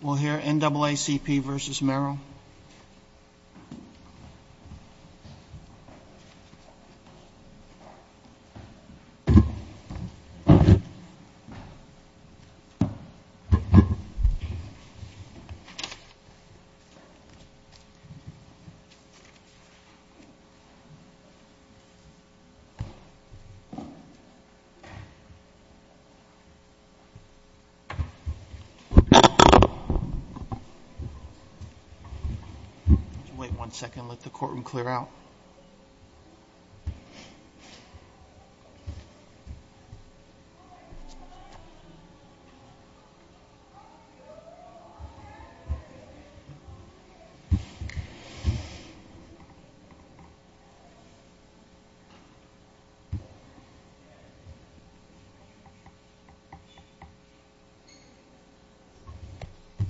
We'll hear NAACP versus Merrill. Wait one second, let the courtroom clear out.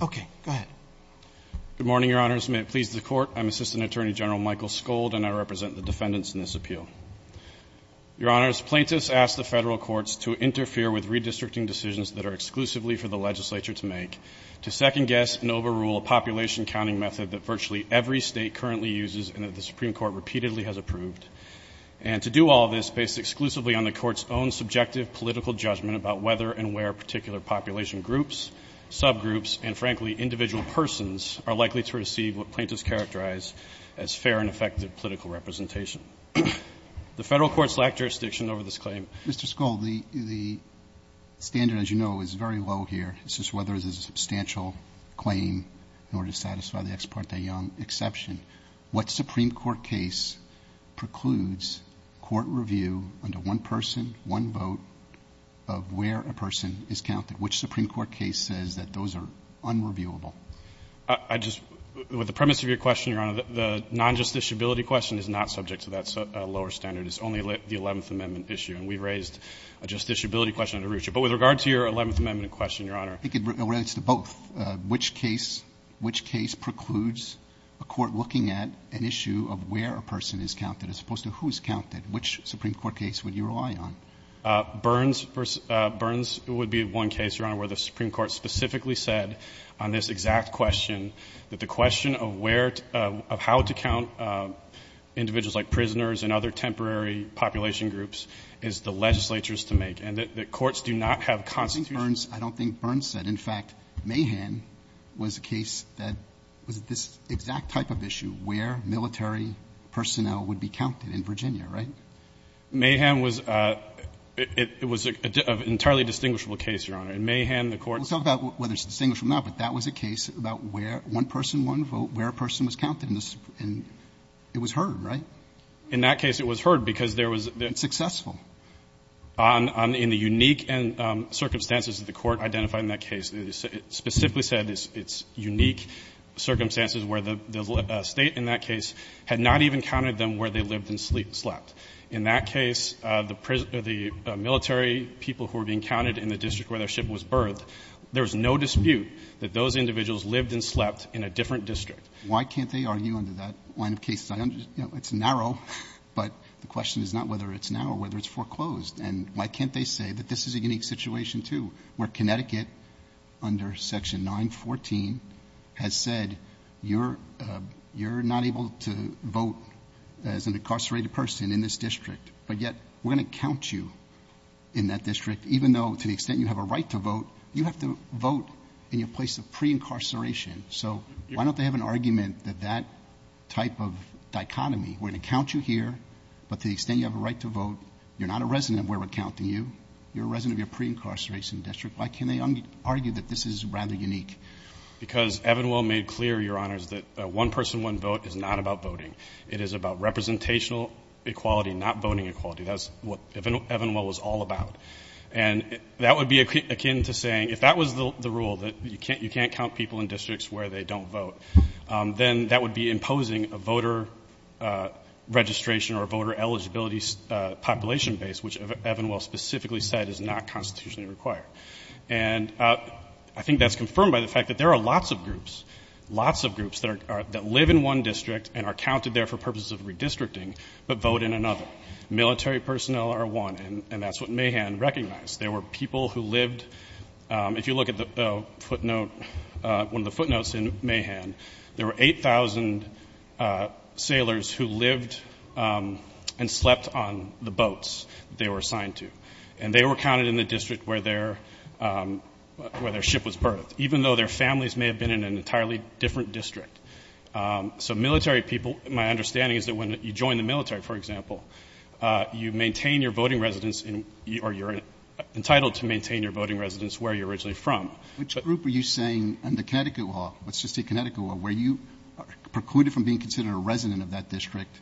Okay. Go ahead. Good morning, your honors. May it please the court. I'm Assistant Attorney General Michael Skold and I represent the defendants in this appeal. Your honors, plaintiffs ask the federal courts to interfere with redistricting decisions that are exclusively for the legislature to make, to second guess and overrule a population counting method that virtually every state currently uses and that the Supreme Court repeatedly has approved. And to do all this based exclusively on the court's own subjective political judgment about whether and where particular population groups, subgroups, and frankly, individual persons are likely to receive what plaintiffs characterize as fair and effective political representation. The federal courts lack jurisdiction over this claim. Mr. Skold, the standard, as you know, is very low here. It's just whether there's a substantial claim in order to satisfy the ex parte exception. What Supreme Court case precludes court review under one person, one vote of where a person is counted? Which Supreme Court case says that those are unreviewable? I just, with the premise of your question, your honor, the non-justiciability question is not subject to that lower standard. It's only the 11th Amendment issue and we raised a justiciability question under Rucha. But with regard to your 11th Amendment question, your honor. I think it relates to both. Which case, which case precludes a court looking at an issue of where a person is counted as opposed to who is counted? Which Supreme Court case would you rely on? Burns, Burns would be one case, your honor, where the Supreme Court specifically said on this exact question that the question of where, of how to count individuals like prisoners and other temporary population groups is the legislature's to make. And the courts do not have constitution. I don't think Burns said. In fact, Mahan was a case that was this exact type of issue, where military personnel would be counted in Virginia, right? Mahan was a, it was an entirely distinguishable case, your honor. In Mahan, the courts. We'll talk about whether it's distinguishable or not, but that was a case about where one person, one vote, where a person was counted in the Supreme, and it was heard, right? In that case, it was heard because there was. It was successful. On, on, in the unique circumstances that the court identified in that case, it specifically said it's unique circumstances where the state in that case had not even counted them where they lived and slept. In that case, the military people who were being counted in the district where their ship was birthed, there was no dispute that those individuals lived and slept in a different district. Why can't they argue under that line of cases? I understand, you know, it's narrow, but the question is not whether it's narrow, whether it's foreclosed, and why can't they say that this is a unique situation too, where Connecticut under section 914 has said, you're, you're not able to vote as an incarcerated person in this district, but yet we're going to count you in that district, even though to the extent you have a right to vote, you have to vote in your place of pre-incarceration. So why don't they have an argument that that type of dichotomy, we're going to count you here, but to the extent you have a right to vote, you're not a resident of where we're counting you, you're a resident of your pre-incarceration district, why can't they argue that this is rather unique? Because Evanwell made clear, Your Honors, that a one person, one vote is not about voting. It is about representational equality, not voting equality. That's what Evanwell was all about. And that would be akin to saying, if that was the rule that you can't, you can't count people in districts where they don't vote, then that would be imposing a voter registration or voter eligibility population base, which Evanwell specifically said is not constitutionally required. And I think that's confirmed by the fact that there are lots of groups, lots of groups that are, that live in one district and are counted there for purposes of redistricting, but vote in another. Military personnel are one, and that's what Mahan recognized. There were people who lived, if you look at the footnote, one of the footnotes in Mahan, there were 8,000 sailors who lived and slept on the boats they were assigned to, and they were counted in the district where their, where their ship was birthed, even though their families may have been in an entirely different district. So military people, my understanding is that when you join the military, for entitled to maintain your voting residence where you're originally from. Which group are you saying under Connecticut law, let's just say Connecticut law, where you precluded from being considered a resident of that district,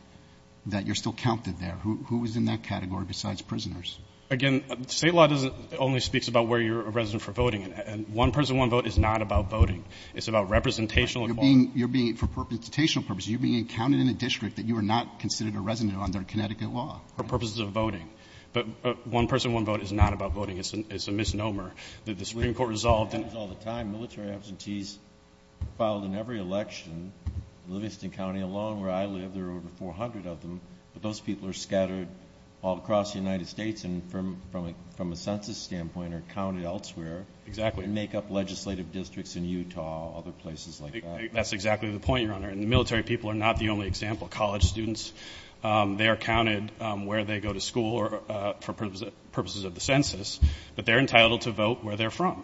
that you're still counted there? Who was in that category besides prisoners? Again, state law doesn't, only speaks about where you're a resident for voting. And one person, one vote is not about voting. It's about representational equality. You're being, for representational purposes, you're being counted in a district that you are not considered a resident under Connecticut law. For purposes of voting. But one person, one vote is not about voting. It's a misnomer that the Supreme Court resolved. And all the time, military absentees filed in every election, Livingston County alone, where I live, there are over 400 of them, but those people are scattered all across the United States. And from, from a, from a census standpoint are counted elsewhere. Exactly. And make up legislative districts in Utah, other places like that. That's exactly the point you're on there. And the military people are not the only example. College students. They are counted where they go to school or for purposes of the census, but they're entitled to vote where they're from.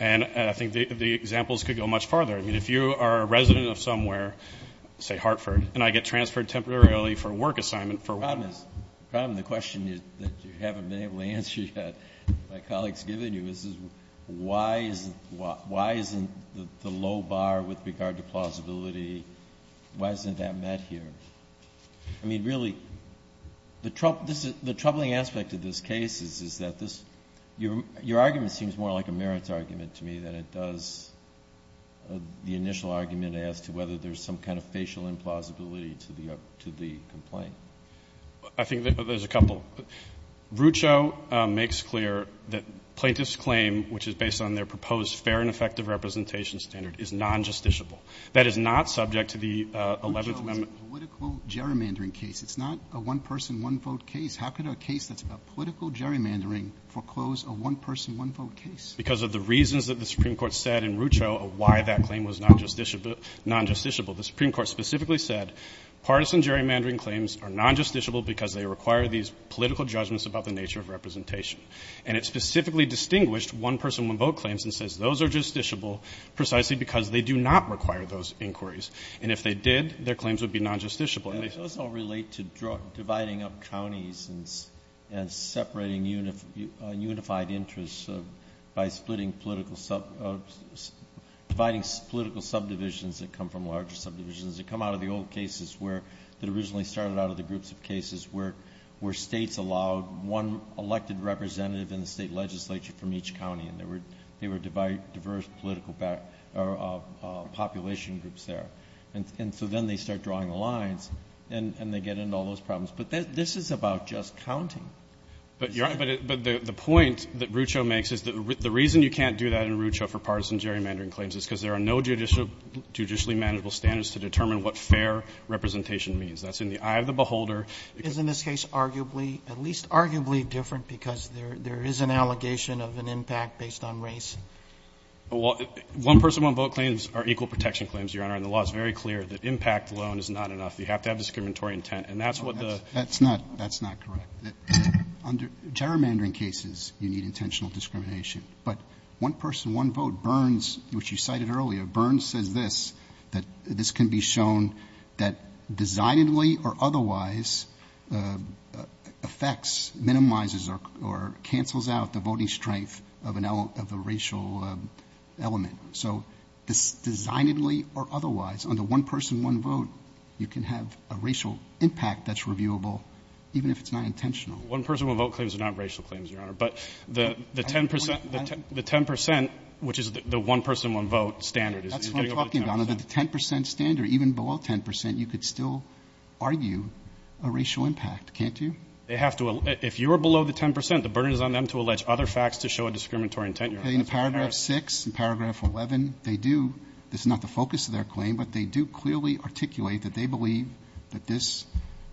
And I think the examples could go much farther. I mean, if you are a resident of somewhere, say Hartford, and I get transferred temporarily for a work assignment for. The problem is, the question that you haven't been able to answer yet, my colleagues given you is, is why isn't, why isn't the low bar with regard to plausibility? Why isn't that met here? I mean, really the Trump, this is the troubling aspect of this case is, is that this, your, your argument seems more like a merits argument to me than it does. Uh, the initial argument as to whether there's some kind of facial implausibility to the, uh, to the complaint. I think that there's a couple. Rucho, uh, makes clear that plaintiffs claim, which is based on their proposed fair and effective representation standard is non-justiciable. That is not subject to the, uh, 11th amendment. Political gerrymandering case. It's not a one person, one vote case. How could a case that's about political gerrymandering foreclose a one person, one vote case? Because of the reasons that the Supreme Court said in Rucho, why that claim was not justiciable, non-justiciable. The Supreme Court specifically said, partisan gerrymandering claims are non-justiciable because they require these political judgments about the nature of representation. And it specifically distinguished one person, one vote claims and says those are justiciable precisely because they do not require those inquiries. And if they did, their claims would be non-justiciable. And those all relate to dividing up counties and separating unified interests by splitting political, uh, dividing political subdivisions that come from larger subdivisions. They come out of the old cases where that originally started out of the groups of cases where, where states allowed one elected representative in the state legislature from each county. And there were, they were divided, diverse political back, or, uh, population groups there. And so then they start drawing the lines and they get into all those problems. But this is about just counting. But you're right. But, but the point that Rucho makes is that the reason you can't do that in Rucho for partisan gerrymandering claims is because there are no judicial, judicially manageable standards to determine what fair representation means. That's in the eye of the beholder. Is in this case, arguably, at least arguably different because there, there is an allegation of an impact based on race. Well, one person, one vote claims are equal protection claims, Your Honor. And the law is very clear that impact alone is not enough. You have to have discriminatory intent. And that's what the... That's not, that's not correct. Under gerrymandering cases, you need intentional discrimination, but one person, one vote, Burns, which you cited earlier, Burns says this, that this can be shown that designedly or otherwise, uh, affects, minimizes or, or cancels out the voting strength of an L of the racial element. So this designedly or otherwise on the one person, one vote, you can have a racial impact that's reviewable, even if it's not intentional. One person, one vote claims are not racial claims, Your Honor. But the, the 10%, the 10%, which is the one person, one vote standard is... That's what I'm talking about, under the 10% standard, even below 10%, you could still argue a racial impact, can't you? They have to, if you are below the 10%, the burden is on them to allege other facts to show a discriminatory intent, Your Honor. In paragraph six and paragraph 11, they do, this is not the focus of their claim, but they do clearly articulate that they believe that this,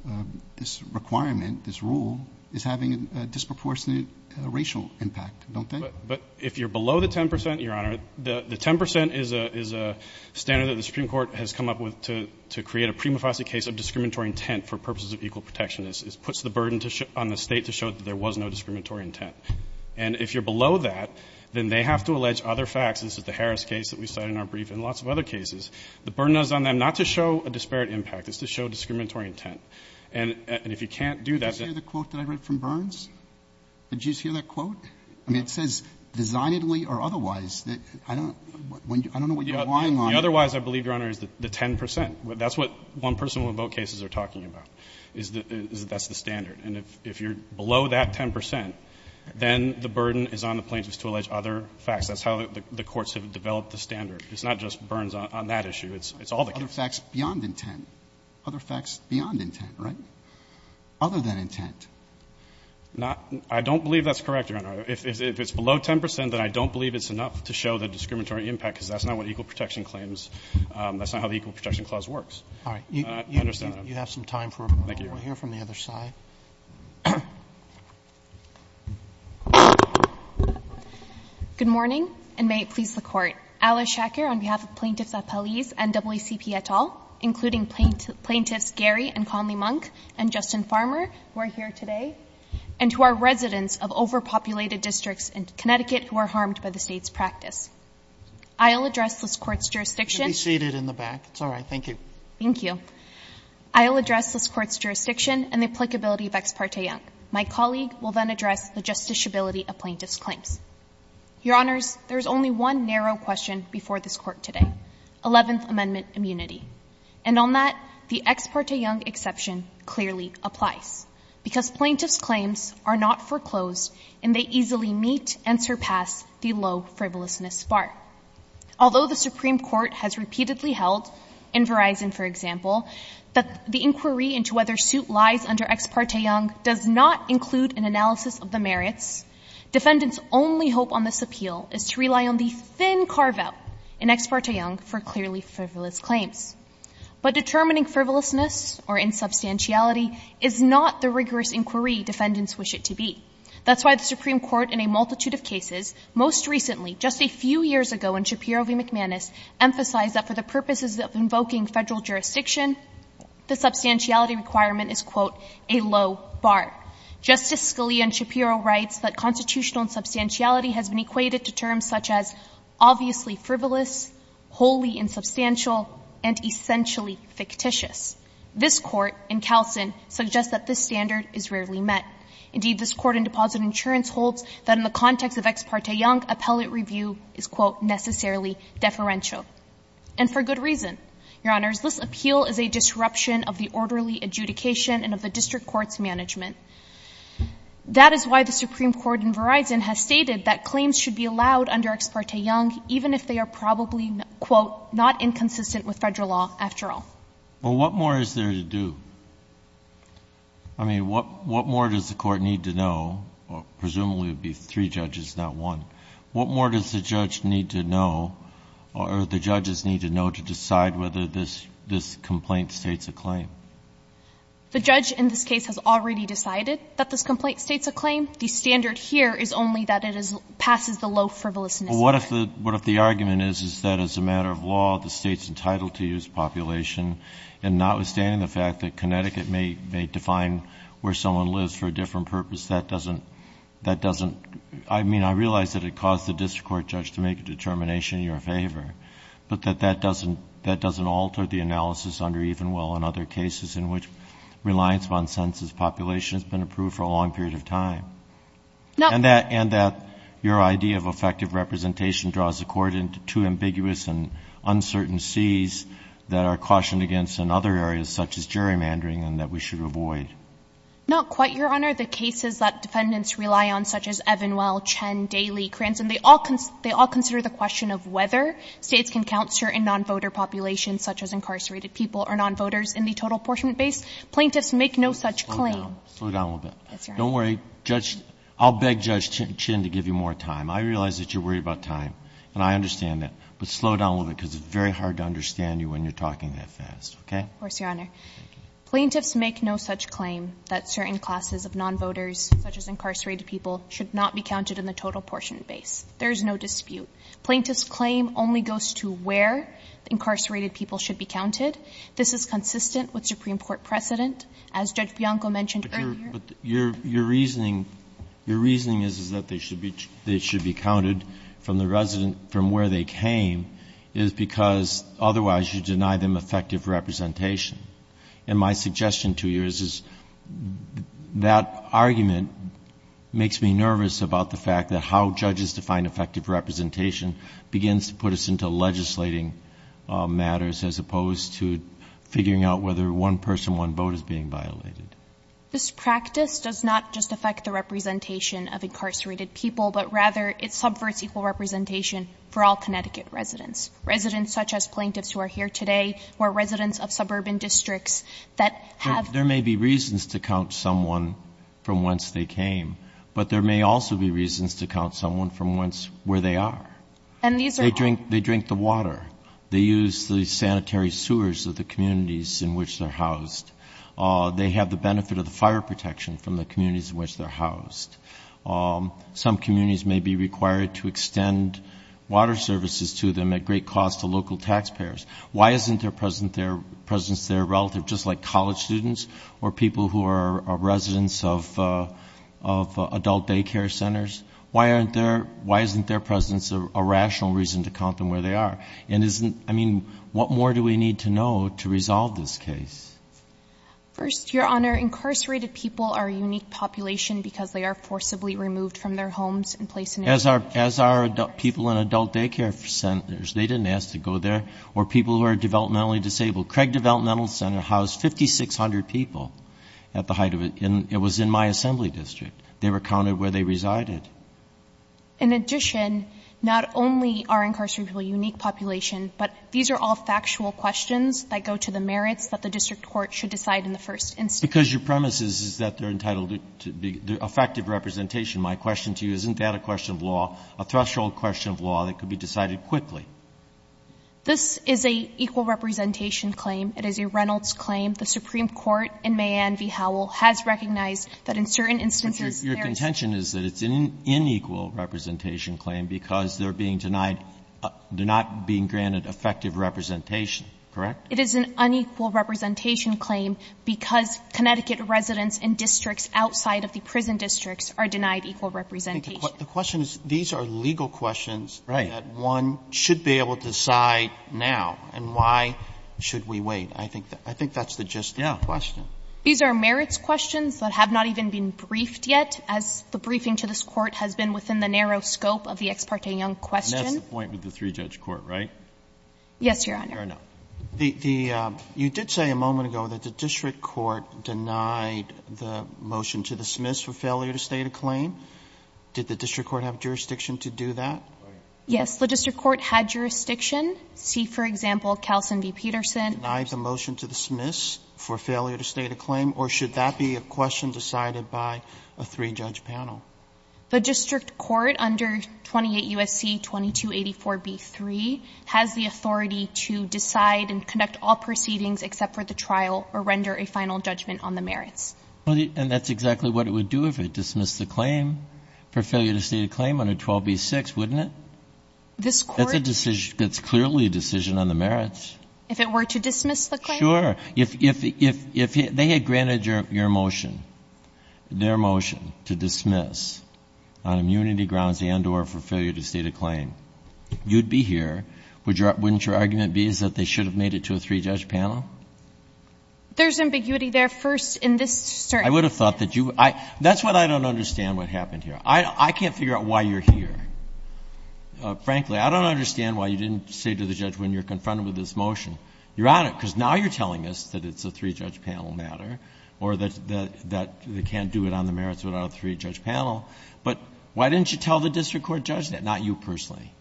uh, this requirement, this rule is having a disproportionate racial impact, don't they? But if you're below the 10%, Your Honor, the 10% is a, is a standard that the Supreme Court has come up with to, to create a prima facie case of discriminatory intent for purposes of equal protection. This puts the burden to show on the state to show that there was no discriminatory intent. And if you're below that, then they have to allege other facts. And this is the Harris case that we cited in our brief and lots of other cases. The burden is on them not to show a disparate impact, it's to show discriminatory intent. And if you can't do that... Did you just hear the quote that I read from Burns? Did you just hear that quote? I mean, it says, designedly or otherwise, I don't, I don't know what you're relying on. The otherwise, I believe, Your Honor, is the 10%. That's what one person, one vote cases are talking about, is that, is that's the 10%, then the burden is on the plaintiffs to allege other facts. That's how the courts have developed the standard. It's not just Burns on that issue. It's, it's all the cases. Other facts beyond intent. Other facts beyond intent, right? Other than intent. Not, I don't believe that's correct, Your Honor. If it's below 10%, then I don't believe it's enough to show the discriminatory impact because that's not what equal protection claims, that's not how the equal protection clause works. All right. You, you have some time for, we'll hear from the other side. Good morning, and may it please the court, Alice Shacker on behalf of plaintiffs at police and WCP et al., including plaintiffs Gary and Conley Monk and Justin Farmer, who are here today, and who are residents of overpopulated districts in Connecticut who are harmed by the state's practice. I'll address this court's jurisdiction. You can be seated in the back. It's all right. Thank you. Thank you. I'll address this court's jurisdiction and the applicability of Ex parte Young. My colleague will then address the justiciability of plaintiff's claims. Your Honors, there's only one narrow question before this court today, 11th amendment immunity, and on that, the Ex parte Young exception clearly applies because plaintiff's claims are not foreclosed and they easily meet and surpass the low frivolousness bar. Although the Supreme court has repeatedly held in Verizon, for example, that the plaintiff's claims do not include an analysis of the merits, defendant's only hope on this appeal is to rely on the thin carve out in Ex parte Young for clearly frivolous claims. But determining frivolousness or insubstantiality is not the rigorous inquiry defendants wish it to be. That's why the Supreme court in a multitude of cases, most recently, just a few years ago in Shapiro v. McManus, emphasized that for the purposes of invoking federal jurisdiction, the Justice Scalia in Shapiro writes that constitutional and substantiality has been equated to terms such as obviously frivolous, wholly insubstantial, and essentially fictitious. This court in Calson suggests that this standard is rarely met. Indeed, this court in deposit insurance holds that in the context of Ex parte Young appellate review is quote necessarily deferential. And for good reason, Your Honors, this appeal is a disruption of the orderly adjudication and of the district court's management. That is why the Supreme court in Verizon has stated that claims should be allowed under Ex parte Young, even if they are probably quote not inconsistent with federal law after all. Well, what more is there to do? I mean, what, what more does the court need to know? Well, presumably it'd be three judges, not one. What more does the judge need to know or the judges need to know to decide whether this, this complaint states a claim? The judge in this case has already decided that this complaint states a claim. The standard here is only that it is, passes the low frivolousness. Well, what if the, what if the argument is, is that as a matter of law, the State's entitled to use population and notwithstanding the fact that Connecticut may, may define where someone lives for a different purpose, that doesn't, that doesn't, I mean, I realize that it caused the district court judge to make a determination in your favor, but that that doesn't, that doesn't alter the analysis under Evenwell and other cases in which reliance on census population has been approved for a long period of time and that, and that your idea of effective representation draws the court into two ambiguous and uncertain seas that are cautioned against in other areas, such as gerrymandering and that we should avoid. Not quite your Honor. The cases that defendants rely on, such as Evenwell, Chen, Daley, Cranston, they all, they all consider the question of whether States can count certain non-voter populations, such as incarcerated people or non-voters in the total apportionment base. Plaintiffs make no such claim. Slow down a little bit. Don't worry. Judge, I'll beg Judge Chen to give you more time. I realize that you're worried about time and I understand that, but slow down a little bit because it's very hard to understand you when you're talking that fast. Okay. Of course, Your Honor. Plaintiffs make no such claim that certain classes of non-voters, such as incarcerated people should not be counted in the total portion base. There is no dispute. Plaintiffs' claim only goes to where incarcerated people should be counted. This is consistent with Supreme Court precedent. As Judge Bianco mentioned earlier. But your, your reasoning, your reasoning is, is that they should be, they should be counted from the resident, from where they came, is because otherwise you deny them effective representation. And my suggestion to you is, is that argument makes me nervous about the fact that how judges define effective representation begins to put us into legislating matters as opposed to figuring out whether one person, one vote is being violated. This practice does not just affect the representation of incarcerated people, but rather it subverts equal representation for all Connecticut residents, residents such as plaintiffs who are here today or residents of suburban districts that have. There may be reasons to count someone from whence they came, but there may also be reasons to count someone from whence, where they are. They drink, they drink the water. They use the sanitary sewers of the communities in which they're housed. They have the benefit of the fire protection from the communities in which they're housed. Some communities may be required to extend water services to them at great cost to local taxpayers. Why isn't their presence, their presence, their relative, just like college students or people who are residents of, uh, of adult daycare centers? Why aren't there, why isn't their presence a rational reason to count them where they are? And isn't, I mean, what more do we need to know to resolve this case? First, your honor, incarcerated people are unique population because they are forcibly removed from their homes and placed in as our, as our people in adult daycare centers. They didn't ask to go there or people who are developmentally disabled. Craig developmental center housed 5,600 people at the height of it. And it was in my assembly district. They were counted where they resided. In addition, not only are incarcerated people unique population, but these are all factual questions that go to the merits that the district court should decide in the first instance. Because your premise is, is that they're entitled to be effective representation. My question to you, isn't that a question of law, a threshold question of law that could be decided quickly? This is a equal representation claim. It is a Reynolds claim. The Supreme Court in May and V Howell has recognized that in certain instances there is. Your contention is that it's an inequal representation claim because they're being denied, they're not being granted effective representation, correct? It is an unequal representation claim because Connecticut residents in districts outside of the prison districts are denied equal representation. The question is, these are legal questions. Right. That one should be able to decide now and why should we wait? I think, I think that's the gist of the question. These are merits questions that have not even been briefed yet, as the briefing to this court has been within the narrow scope of the ex parte young question. And that's the point with the three judge court, right? Yes, Your Honor. Fair enough. The, the, um, you did say a moment ago that the district court denied the motion to dismiss for failure to state a claim. Did the district court have jurisdiction to do that? Yes. The district court had jurisdiction. See, for example, Calson v. Peterson. Denied the motion to dismiss for failure to state a claim, or should that be a question decided by a three judge panel? The district court under 28 USC 2284 B3 has the authority to decide and conduct all proceedings except for the trial or render a final judgment on the merits. And that's exactly what it would do if it dismissed the claim for failure to claim under 12 B6, wouldn't it? This court. That's a decision. That's clearly a decision on the merits. If it were to dismiss the claim? Sure. If, if, if, if they had granted your, your motion, their motion to dismiss on immunity grounds and or for failure to state a claim, you'd be here. Would your, wouldn't your argument be is that they should have made it to a three judge panel? There's ambiguity there first in this. I would have thought that you, I, that's what I don't understand what happened here. I, I can't figure out why you're here. Uh, frankly, I don't understand why you didn't say to the judge when you're confronted with this motion, you're on it because now you're telling us that it's a three judge panel matter or that, that, that they can't do it on the merits without a three judge panel, but why didn't you tell the district court judge that, not you personally?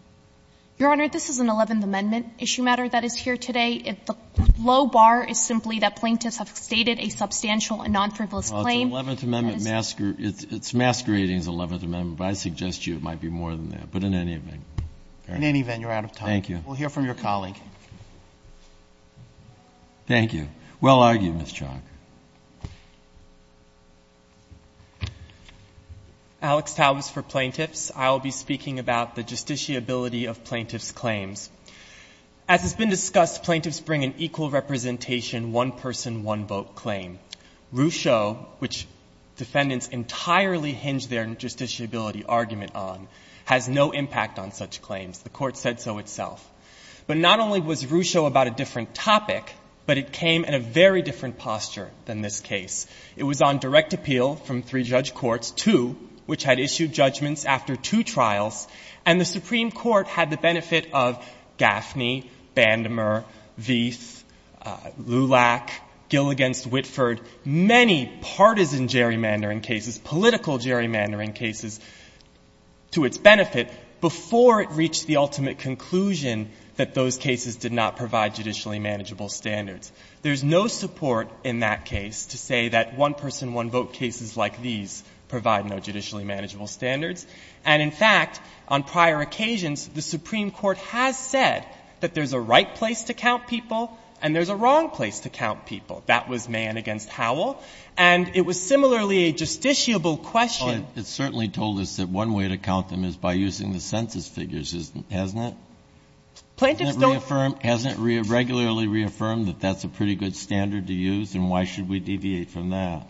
Your Honor, this is an 11th amendment issue matter that is here today. If the low bar is simply that plaintiffs have stated a substantial and non-frivolous claim. The 11th amendment masquerade, it's masquerading as 11th amendment, but I suggest you it might be more than that, but in any event. In any event, you're out of time. Thank you. We'll hear from your colleague. Thank you. Well argued, Ms. Chalk. Alex Taubes for plaintiffs. I'll be speaking about the justiciability of plaintiff's claims. As has been discussed, plaintiffs bring an equal representation, one person, one vote on a claim. Rucho, which defendants entirely hinge their justiciability argument on, has no impact on such claims. The Court said so itself. But not only was Rucho about a different topic, but it came in a very different posture than this case. It was on direct appeal from three judge courts, two which had issued judgments after two trials, and the Supreme Court had the benefit of Gaffney, Bandmer, Vieth, Lulak, Gill against Whitford, many partisan gerrymandering cases, political gerrymandering cases, to its benefit, before it reached the ultimate conclusion that those cases did not provide judicially manageable standards. There's no support in that case to say that one-person, one-vote cases like these provide no judicially manageable standards. And in fact, on prior occasions, the Supreme Court has said that there's a right place to count people, and there's a wrong place to count people. That was Mann against Howell. And it was similarly a justiciable question. But it certainly told us that one way to count them is by using the census figures, hasn't it? Plaintiffs don't reaffirm, hasn't regularly reaffirmed that that's a pretty good standard to use, and why should we deviate from that?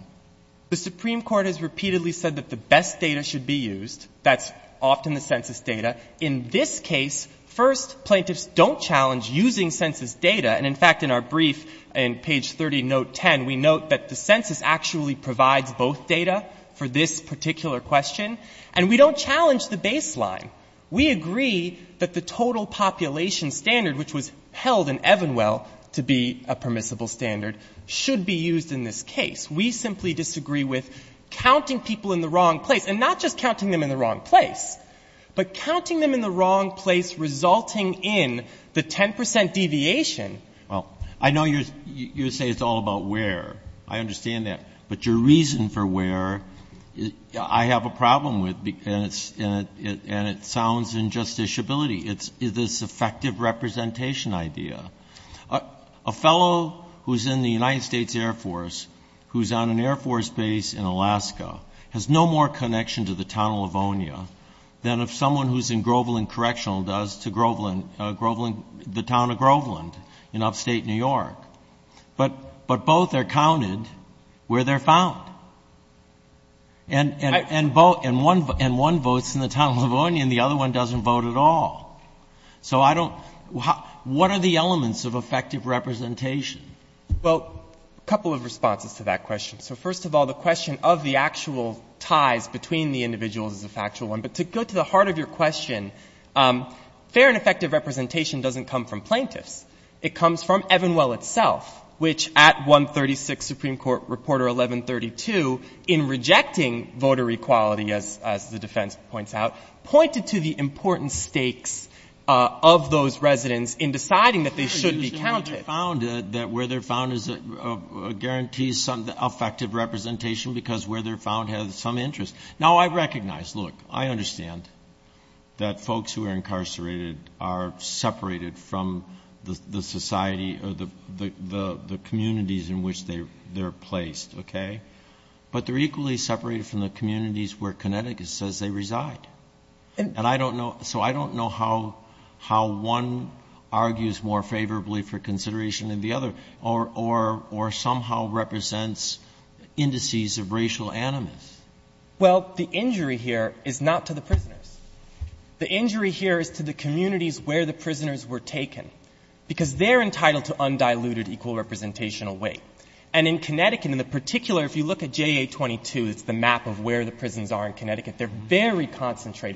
The Supreme Court has repeatedly said that the best data should be used. That's often the census data. In this case, first, plaintiffs don't challenge using census data. And in fact, in our brief in page 30, note 10, we note that the census actually provides both data for this particular question. And we don't challenge the baseline. We agree that the total population standard, which was held in Evanwell to be a permissible standard, should be used in this case. We simply disagree with counting people in the wrong place, and not just counting them in the wrong place. But counting them in the wrong place resulting in the 10 percent deviation. Well, I know you say it's all about where. I understand that. But your reason for where, I have a problem with, and it sounds injusticiability. It's this effective representation idea. A fellow who's in the United States Air Force, who's on an Air Force base in Alaska, has no more connection to the town of Livonia than if someone who's in Groveland Correctional does to the town of Groveland in upstate New York. But both are counted where they're found. And one votes in the town of Livonia, and the other one doesn't vote at all. So I don't, what are the elements of effective representation? Well, a couple of responses to that question. So first of all, the question of the actual ties between the individuals is a factual one. But to go to the heart of your question, fair and effective representation doesn't come from plaintiffs. It comes from Evanwell itself, which at 136 Supreme Court Reporter 1132, in rejecting voter equality, as the defense points out, pointed to the important stakes of those residents in deciding that they should be counted. Where they're found guarantees effective representation because where they're found has some interest. Now I recognize, look, I understand that folks who are incarcerated are separated from the society or the communities in which they're placed, okay? But they're equally separated from the communities where Connecticut says they reside. And I don't know, so I don't know how one argues more favorably for consideration than the other, or somehow represents indices of racial animus. Well, the injury here is not to the prisoners. The injury here is to the communities where the prisoners were taken, because they're entitled to undiluted, equal representational weight. And in Connecticut, in particular, if you look at JA-22, it's the map of where the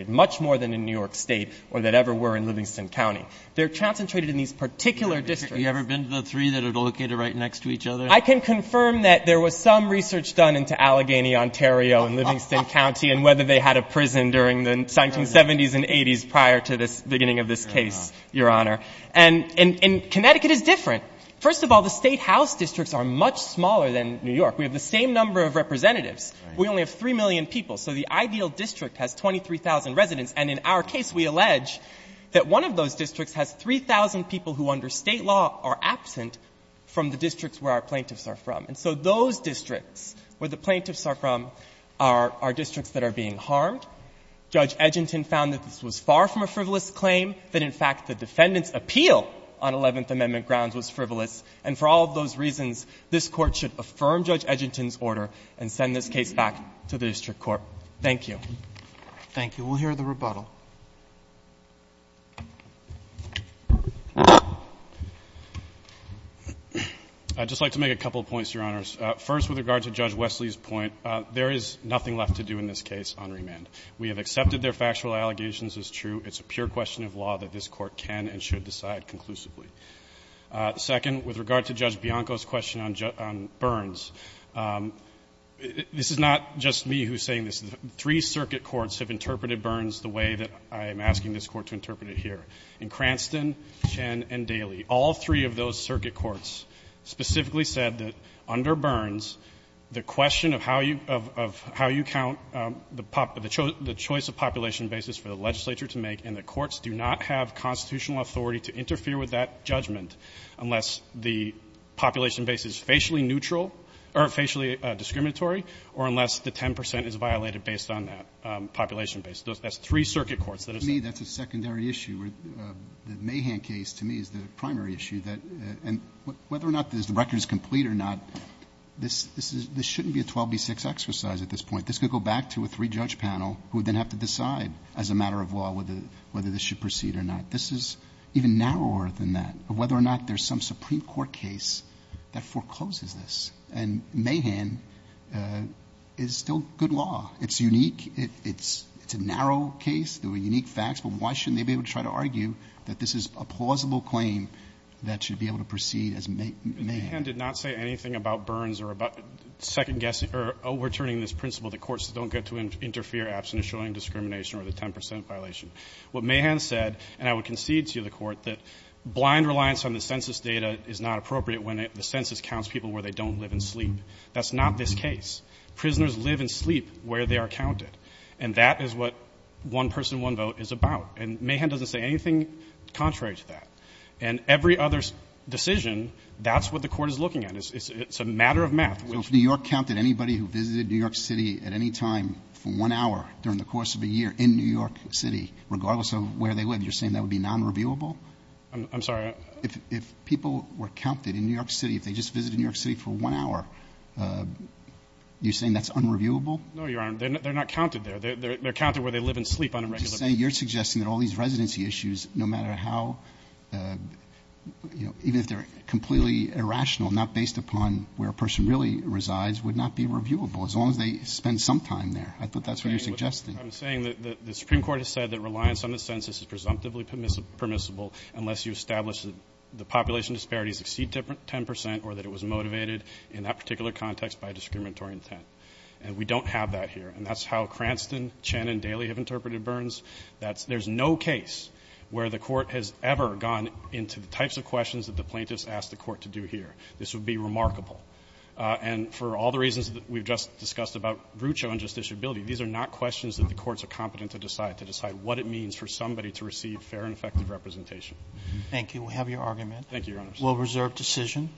much more than in New York State or that ever were in Livingston County. They're concentrated in these particular districts. Have you ever been to the three that are located right next to each other? I can confirm that there was some research done into Allegheny, Ontario, and Livingston County, and whether they had a prison during the 1970s and 80s prior to the beginning of this case, Your Honor. And Connecticut is different. First of all, the State House districts are much smaller than New York. We have the same number of representatives. We only have 3 million people. So the ideal district has 23,000 residents. And in our case, we allege that one of those districts has 3,000 people who, under State law, are absent from the districts where our plaintiffs are from. And so those districts where the plaintiffs are from are districts that are being harmed. Judge Edginton found that this was far from a frivolous claim, that, in fact, the defendant's appeal on Eleventh Amendment grounds was frivolous, and for all of those reasons, this Court should affirm Judge Edginton's order and send this case back to the district court. Thank you. Thank you. We'll hear the rebuttal. I'd just like to make a couple of points, Your Honors. First, with regard to Judge Wesley's point, there is nothing left to do in this case on remand. We have accepted their factual allegations as true. It's a pure question of law that this Court can and should decide conclusively. I'm not the only one who's saying this. Three circuit courts have interpreted Burns the way that I'm asking this Court to interpret it here, in Cranston, Chen, and Daly. All three of those circuit courts specifically said that, under Burns, the question of how you count the choice of population basis for the legislature to make, and the courts do not have constitutional authority to interfere with that judgment unless the population base is facially neutral or facially discriminatory, or unless the 10 percent is violated based on that population base. That's three circuit courts that have said that. To me, that's a secondary issue. The Mahan case, to me, is the primary issue. And whether or not the record is complete or not, this shouldn't be a 12B6 exercise at this point. This could go back to a three-judge panel who would then have to decide, as a matter of law, whether this should proceed or not. This is even narrower than that, whether or not there's some Supreme Court case that forecloses this. And Mahan is still good law. It's unique. It's a narrow case. There were unique facts. But why shouldn't they be able to try to argue that this is a plausible claim that should be able to proceed as Mahan? Mahan did not say anything about Burns or about second-guessing or overturning this principle that courts don't get to interfere, absent a showing of discrimination or the 10 percent violation. What Mahan said, and I would concede to you, the Court, that blind reliance on the census counts people where they don't live and sleep. That's not this case. Prisoners live and sleep where they are counted. And that is what one-person, one-vote is about. And Mahan doesn't say anything contrary to that. And every other decision, that's what the Court is looking at. It's a matter of math. Roberts. So if New York counted anybody who visited New York City at any time for one hour during the course of a year in New York City, regardless of where they lived, you're saying that would be nonreviewable? I'm sorry? If people were counted in New York City, if they just visited New York City for one hour, you're saying that's unreviewable? No, Your Honor. They're not counted there. They're counted where they live and sleep on a regular basis. So you're suggesting that all these residency issues, no matter how, you know, even if they're completely irrational, not based upon where a person really resides, would not be reviewable, as long as they spend some time there. I thought that's what you're suggesting. I'm saying that the Supreme Court has said that reliance on the census is presumptively permissible unless you establish that the population disparities exceed 10 percent or that it was motivated in that particular context by a discriminatory intent. And we don't have that here. And that's how Cranston, Chen, and Daley have interpreted Burns. That's — there's no case where the Court has ever gone into the types of questions that the plaintiffs ask the Court to do here. This would be remarkable. And for all the reasons that we've just discussed about Brucho and justiciability, these are not questions that the courts are competent to decide, to decide what it means for somebody to receive fair and effective representation. Thank you. We have your argument. Thank you, Your Honors. We'll reserve decision.